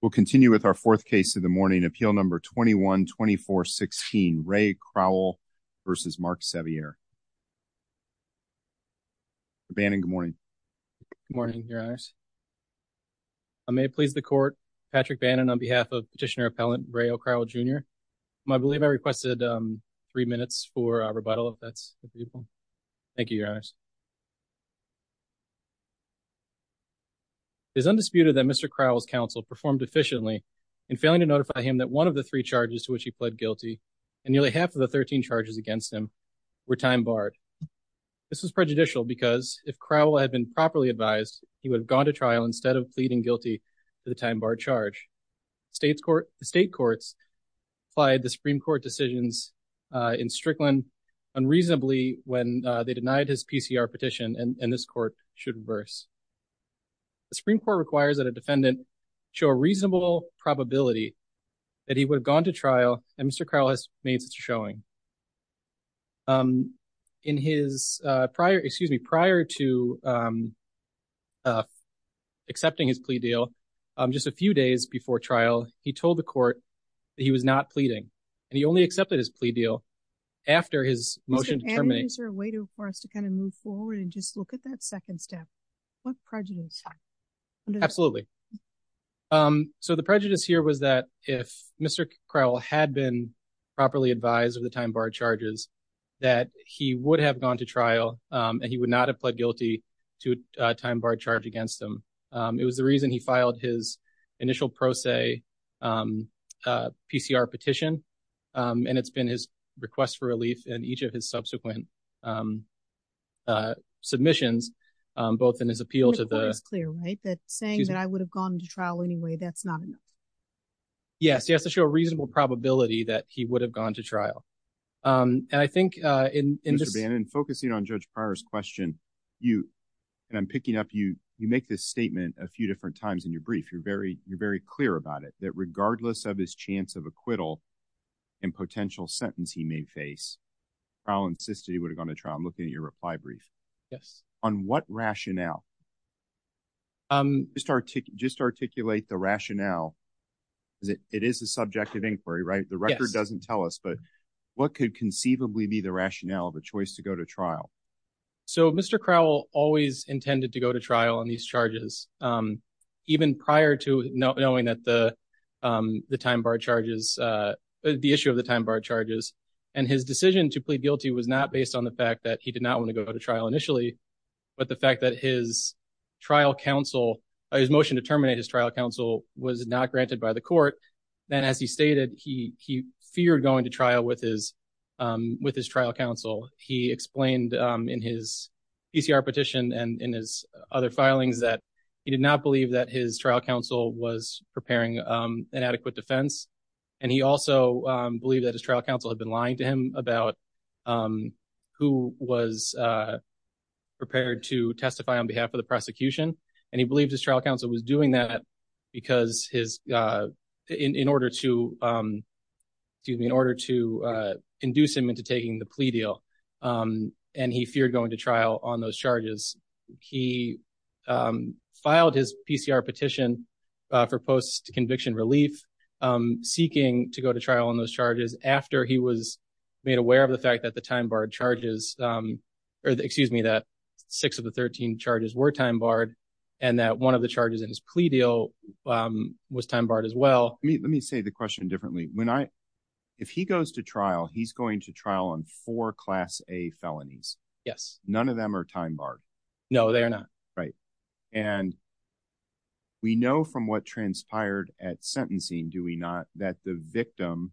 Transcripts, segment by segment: We'll continue with our fourth case of the morning, Appeal No. 21-2416, Ray Crowell v. Mark Sevier. Mr. Bannon, good morning. Good morning, Your Honors. I may please the Court. Patrick Bannon on behalf of Petitioner Appellant Ray O'Crowell, Jr. I believe I requested three minutes for rebuttal, if that's appropriate. Thank you, Your Honors. It is undisputed that Mr. Crowell's counsel performed efficiently in failing to notify him that one of the three charges to which he pled guilty, and nearly half of the 13 charges against him, were time-barred. This was prejudicial because, if Crowell had been properly advised, he would have gone to trial instead of pleading guilty to the time-barred charge. The state courts applied the Supreme Court decisions in Strickland unreasonably when they denied his PCR petition, and this Court should reverse. The Supreme Court requires that a defendant show a reasonable probability that he would have gone to trial, and Mr. Crowell has made such a showing. In his prior, excuse me, prior to accepting his plea deal, just a few days before trial, he told the Court that he was not pleading, and he only accepted his plea deal after his motion to terminate. Is there a way for us to kind of move forward and just look at that second step? What prejudice? Absolutely. So, the prejudice here was that if Mr. Crowell had been properly advised of the time-barred charges, that he would have gone to trial, and he would not have pled guilty to a time-barred charge against him. It was the reason he filed his request for relief in each of his subsequent submissions, both in his appeal to the... The Court is clear, right? That saying that I would have gone to trial anyway, that's not enough. Yes. He has to show a reasonable probability that he would have gone to trial, and I think in this... Mr. Bannon, focusing on Judge Pryor's question, you, and I'm picking up, you make this statement a few different times in your brief. You're very clear about it, that regardless of his chance of acquittal and potential sentence he may face, Crowell insisted he would have gone to trial. I'm looking at your reply brief. Yes. On what rationale? Just articulate the rationale, because it is a subject of inquiry, right? The record doesn't tell us, but what could conceivably be the rationale of a choice to go to trial? So, Mr. Crowell always intended to go to trial on these charges, even prior to knowing that the time-barred charges, the issue of the time-barred charges, and his decision to plead guilty was not based on the fact that he did not want to go to trial initially, but the fact that his trial counsel, his motion to terminate his trial counsel was not granted by the Court. Then, as he stated, he feared going to trial with his trial counsel. He explained in his PCR petition and in his other filings that he did not believe that his trial counsel was preparing an adequate defense, and he also believed that his trial counsel had been lying to him about who was prepared to testify on behalf of the prosecution, and he believed his trial counsel was doing that because his, in order to, excuse me, in order to induce him into taking the plea deal, and he feared going to trial on those charges. He filed his PCR petition for post-conviction relief, seeking to go to trial on those charges after he was made aware of the fact that the time-barred charges, or excuse me, that six of the thirteen charges were time-barred, and that one of the was time-barred as well. Let me, let me say the question differently. When I, if he goes to trial, he's going to trial on four Class A felonies. Yes. None of them are time-barred. No, they are not. Right, and we know from what transpired at sentencing, do we not, that the victim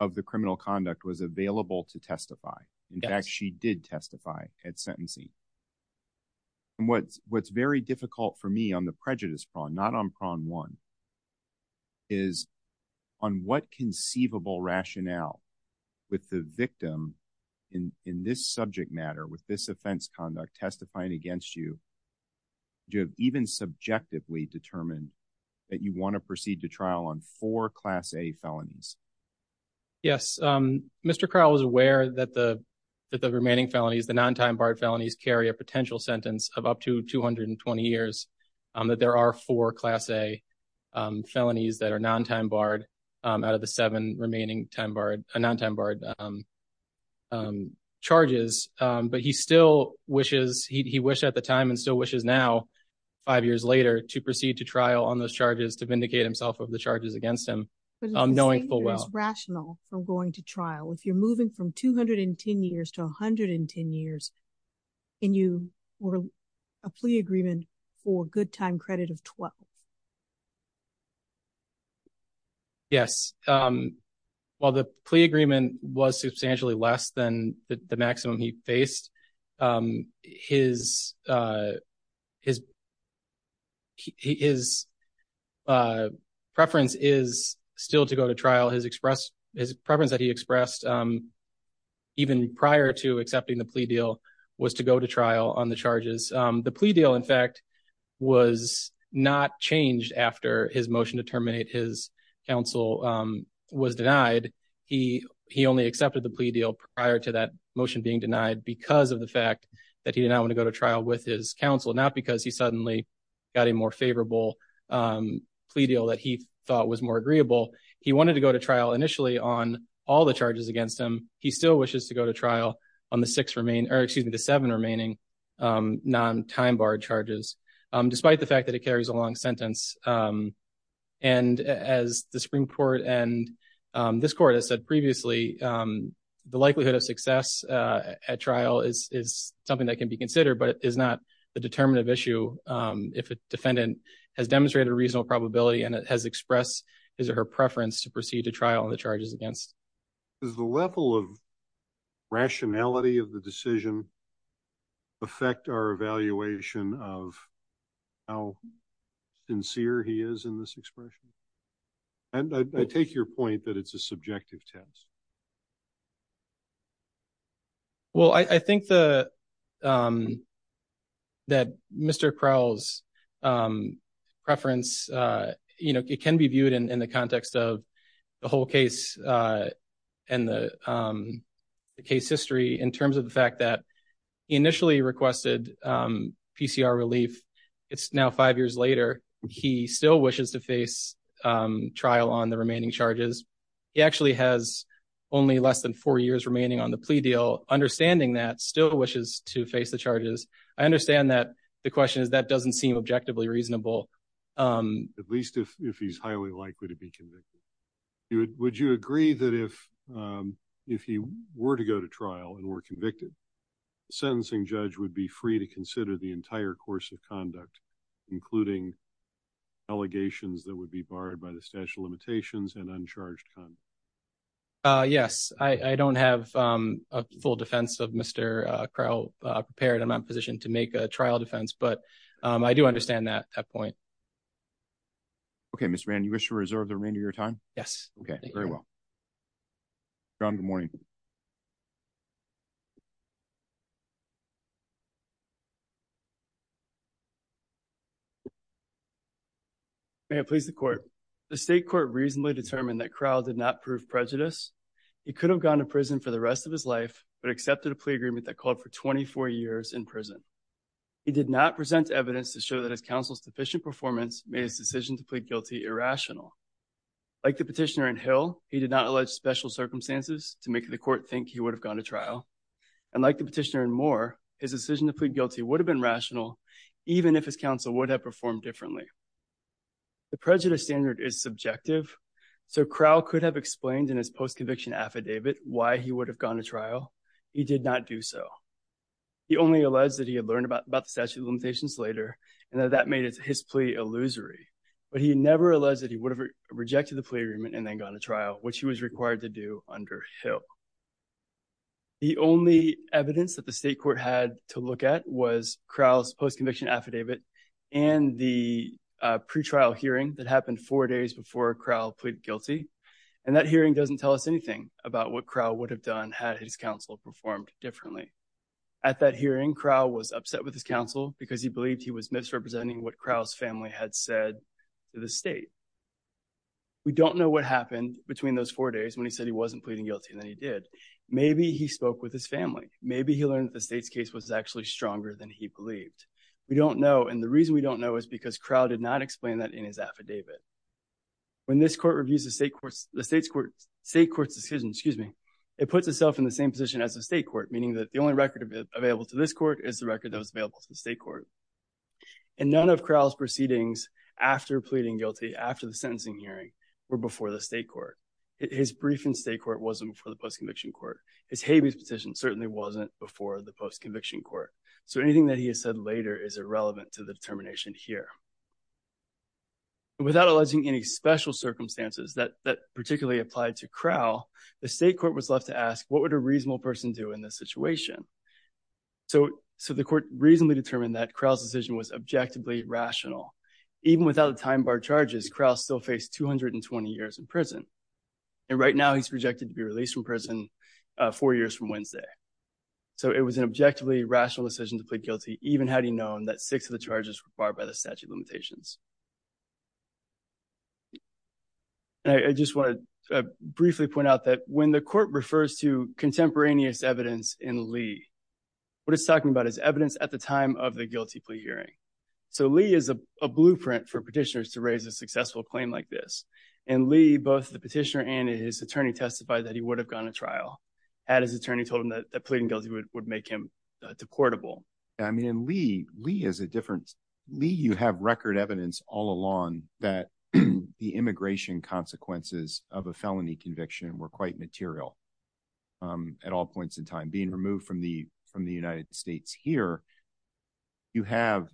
of the criminal conduct was available to testify. In fact, she did testify at sentencing, and what's, what's very difficult for me on the prejudice prong, not on prong one, is on what conceivable rationale with the victim in, in this subject matter, with this offense conduct, testifying against you, do you even subjectively determine that you want to proceed to trial on four Class A felonies? Yes, Mr. Crowell was aware that the, that the remaining felonies, the non-time-barred felonies, carry a potential sentence of up to 220 years, that there are four Class A felonies that are non-time-barred out of the seven remaining time-barred, non-time-barred charges, but he still wishes, he wished at the time, and still wishes now, five years later, to proceed to trial on those charges, to vindicate himself of the charges against him, knowing full well. It's rational from going to trial. If you're moving from 210 years to 110 years, and you were a plea agreement for a good time credit of 12. Yes, while the plea agreement was substantially less than the maximum he faced, his, his, his preference is still to go to trial. His express, his preference that he expressed, even prior to accepting the plea deal, was to go to trial on the charges. The plea deal, in fact, was not changed after his motion to terminate his counsel was denied. He, he only accepted the plea deal prior to that motion being denied because of the fact that he did not want to go to trial with his counsel, not because he suddenly got a more favorable plea deal that he thought was more agreeable. He wanted to go to trial initially on all the charges against him. He still wishes to go to trial on the six remaining, or excuse me, the seven remaining non-time-barred charges, despite the fact that it carries a long sentence. And as the Supreme Court and this court has said previously, the likelihood of success at trial is, is something that can be considered, but it is not the determinative issue. If a defendant has demonstrated a preference, expressed his or her preference to proceed to trial on the charges against. Does the level of rationality of the decision affect our evaluation of how sincere he is in this expression? And I take your point that it's a subjective test. Well, I, I think the, um, that Mr. Crowell's, um, preference, uh, you know, it can be viewed in, in the context of the whole case, uh, and the, um, the case history in terms of the fact that he initially requested, um, PCR relief. It's now five years later. He still wishes to face, um, trial on the remaining charges. He actually has only less than four years remaining on the plea deal. Understanding that still wishes to face the charges. I understand that the question is that doesn't seem objectively reasonable. Um, at least if, if he's highly likely to be convicted, would you agree that if, um, if he were to go to trial and were convicted, the sentencing judge would be free to consider the entire course of conduct, including allegations that would be barred by the statute of limitations and uncharged conduct? Uh, yes, I, I don't have, um, a full defense of Mr. Crowell, uh, prepared in my position to make a trial defense, but, um, I do understand that at that point. Okay. Mr. Mann, you wish to reserve the remainder of your time? Yes. Okay. Very well. John, good morning. May I please the court? The state court reasonably determined that Crowell did not prove prejudice. He could have gone to prison for the rest of his life, but accepted a plea agreement that called for 24 years in prison. He did not present evidence to show that his counsel's deficient performance made his decision to plead guilty irrational. Like the petitioner in Hill, he did not allege special circumstances to make the court think he would have gone to trial. And like the petitioner in Moore, his decision to plead guilty would have been rational, even if his counsel would have performed differently. The prejudice standard is subjective, so Crowell could have explained in his post-conviction affidavit why he would have gone to trial. He did not do so. He only alleged that he had learned about the statute of limitations later and that that made his plea illusory, but he never alleged that he would have rejected the plea agreement and then gone to trial, which he was required to do under Hill. The only evidence that the state court had to look at was Crowell's post-conviction affidavit and the pre-trial hearing that happened four days before Crowell pleaded guilty. And that hearing doesn't tell us anything about what Crowell would have done had his counsel performed differently. At that hearing, Crowell was upset with his counsel because he believed he was misrepresenting what Crowell's family had said to the state. We don't know what happened between those four days when he said he wasn't pleading guilty, and then he did. Maybe he spoke with his family. Maybe he learned that the state's case was actually stronger than he believed. We don't know, and the reason we don't know is because Crowell did not explain that in his affidavit. When this court reviews the state court's decision, it puts itself in the same position as the state court, meaning that the only record available to this court is the record that was available to the state court. And none of Crowell's proceedings after pleading guilty, after the sentencing hearing, were before the state court. His brief in state court wasn't before the post-conviction court. His habeas petition certainly wasn't before the post-conviction court, so anything that he has said later is irrelevant to the determination here. The state court was left to ask, what would a reasonable person do in this situation? So the court reasonably determined that Crowell's decision was objectively rational. Even without the time-barred charges, Crowell still faced 220 years in prison, and right now he's projected to be released from prison four years from Wednesday. So it was an objectively rational decision to plead guilty, even had he known that six of the charges were that. When the court refers to contemporaneous evidence in Lee, what it's talking about is evidence at the time of the guilty plea hearing. So Lee is a blueprint for petitioners to raise a successful claim like this. In Lee, both the petitioner and his attorney testified that he would have gone to trial, had his attorney told him that pleading guilty would make him deportable. I mean, in Lee, you have record evidence all along that the immigration consequences of a petition are not quite material at all points in time. Being removed from the United States here, you have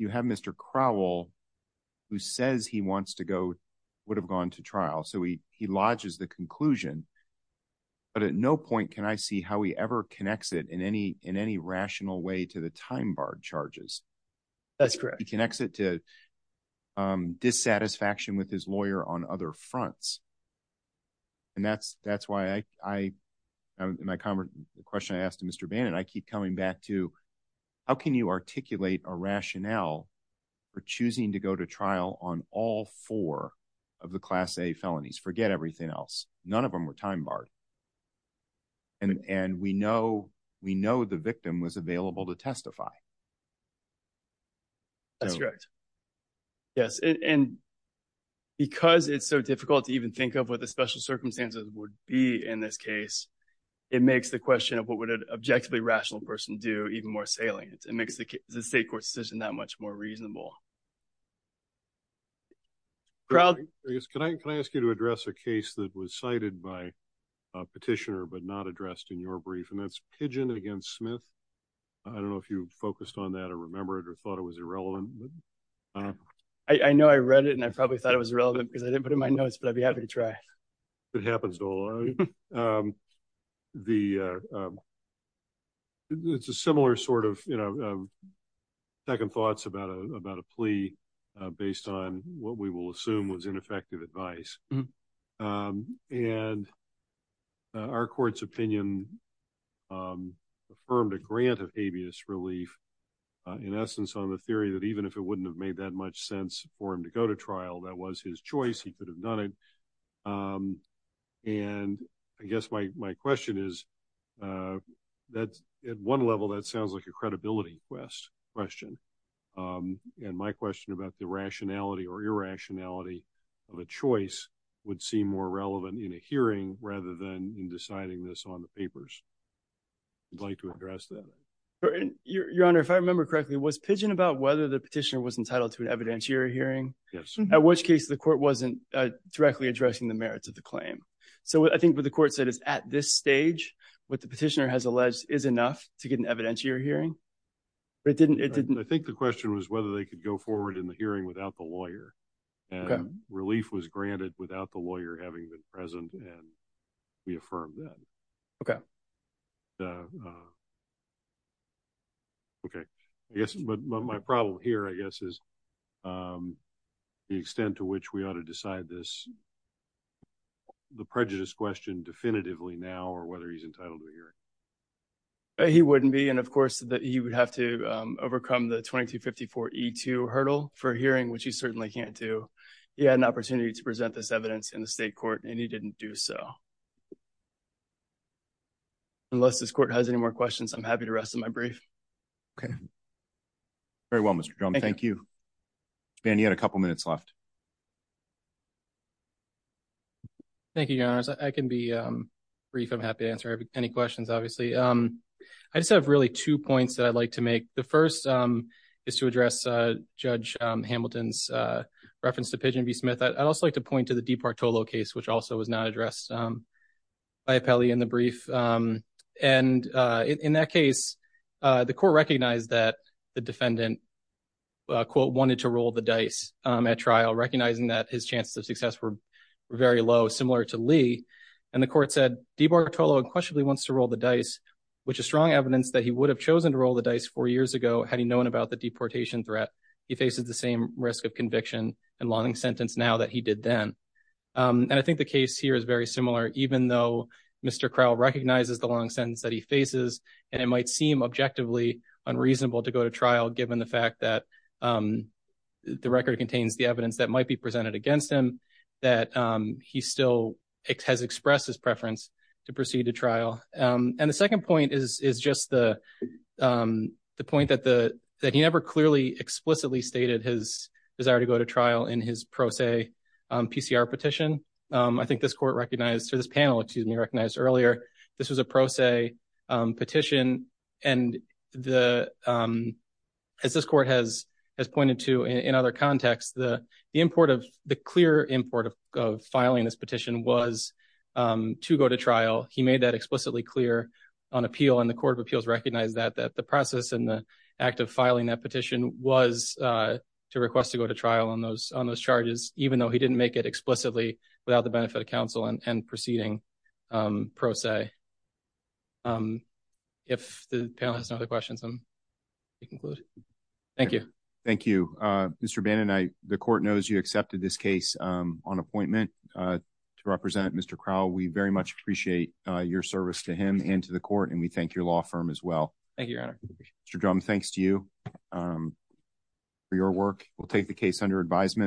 Mr. Crowell, who says he wants to go, would have gone to trial. So he lodges the conclusion, but at no point can I see how he ever connects it in any rational way to the time-barred charges. That's correct. He connects it to dissatisfaction with his lawyer on other fronts, and that's why I, in my comment, the question I asked Mr. Bannon, I keep coming back to, how can you articulate a rationale for choosing to go to trial on all four of the Class A felonies? Forget everything else. None of them were time-barred, and we know the victim was available to testify. That's correct. Yes, and because it's so difficult to even think of what the special circumstances would be in this case, it makes the question of what would an objectively rational person do even more salient. It makes the state court's decision that much more reasonable. Crowell? Can I ask you to address a case that was cited by a petitioner but not addressed in your brief, and that's Pidgeon against Smith. I don't know if you focused on that or remember it or thought it was irrelevant. I know I read it, and I probably thought it was relevant because I didn't put it in my notes, but I'd be happy to try. It happens to all of you. It's a similar sort of second thoughts about a plea based on what we will assume was ineffective advice, and our court's opinion affirmed a grant of habeas relief in essence on the theory that even if it wouldn't have made that much sense for him to go to trial, that was his choice. He could have done it, and I guess my question is, at one level, that sounds like a credibility question, and my question about the rationality or irrationality of a choice would seem more relevant in a hearing rather than in deciding this on the papers. I'd like to address that. Your Honor, if I remember correctly, was Pidgeon about whether the petitioner was entitled to an evidentiary hearing? Yes. At which case, the court wasn't directly addressing the merits of the claim. So, I think what the court said is at this stage, what the petitioner has alleged is enough to get an evidentiary hearing? I think the question was whether they could go forward in the hearing without the lawyer, and relief was granted without the lawyer having been present, and we affirmed that. Okay. Okay. Yes, but my problem here, I guess, is the extent to which we ought to decide the prejudice question definitively now or whether he's entitled to a hearing. He wouldn't be, and of course, he would have to overcome the 2254E2 hurdle for a hearing, which he certainly can't do. He had an opportunity to present this evidence in the state court, and he didn't do so. Unless this court has any more questions, I'm happy to rest on my brief. Okay. Very well, Mr. Drum. Thank you. And you had a couple minutes left. Thank you, Your Honors. I can be brief. I'm happy to answer any questions, obviously. I just have really two points that I'd like to make. The first is to address Judge Hamilton's reference to Pigeon v. Smith. I'd also like to point to the DiPartolo case, which also was not addressed by Appelli in the brief. And in that case, the court recognized that the defendant, quote, wanted to roll the dice at trial, recognizing that his chances of success were very low, similar to Lee. And the court said, DiPartolo unquestionably wants to roll the dice, which is strong evidence that he would have chosen to roll the dice four years ago, had he known about the deportation threat. He faces the same risk of conviction and longing sentence now that he did then. And I think the case here is very similar, even though Mr. Crow recognizes the long sentence that he faces, and it might seem objectively unreasonable to go to trial, given the fact that the record contains the evidence that might be presented against him, that he still has expressed his preference to proceed to trial. And the second point is just the point that he never clearly, explicitly stated his desire to go to trial in his pro se PCR petition. I think this court recognized, or this panel, excuse me, recognized earlier, this was a pro se petition. And as this court has pointed to in other contexts, the clear import of filing this petition was to go to trial. He made that explicitly clear on appeal, and the Court of Appeals recognized that, that the process and the act of filing that petition was to request to go to trial on those charges, even though he didn't make it explicitly without the benefit of counsel and proceeding pro se. If the panel has no other questions, I'll conclude. Thank you. Thank you. Mr. Bannon, the court knows you accepted this case on appointment to represent Mr. Crow. We very much appreciate your service to him and to the court, and we thank your law firm as well. Thank you, Your Honor. Mr. Drum, thanks to you for your work. We'll take the case under advisement.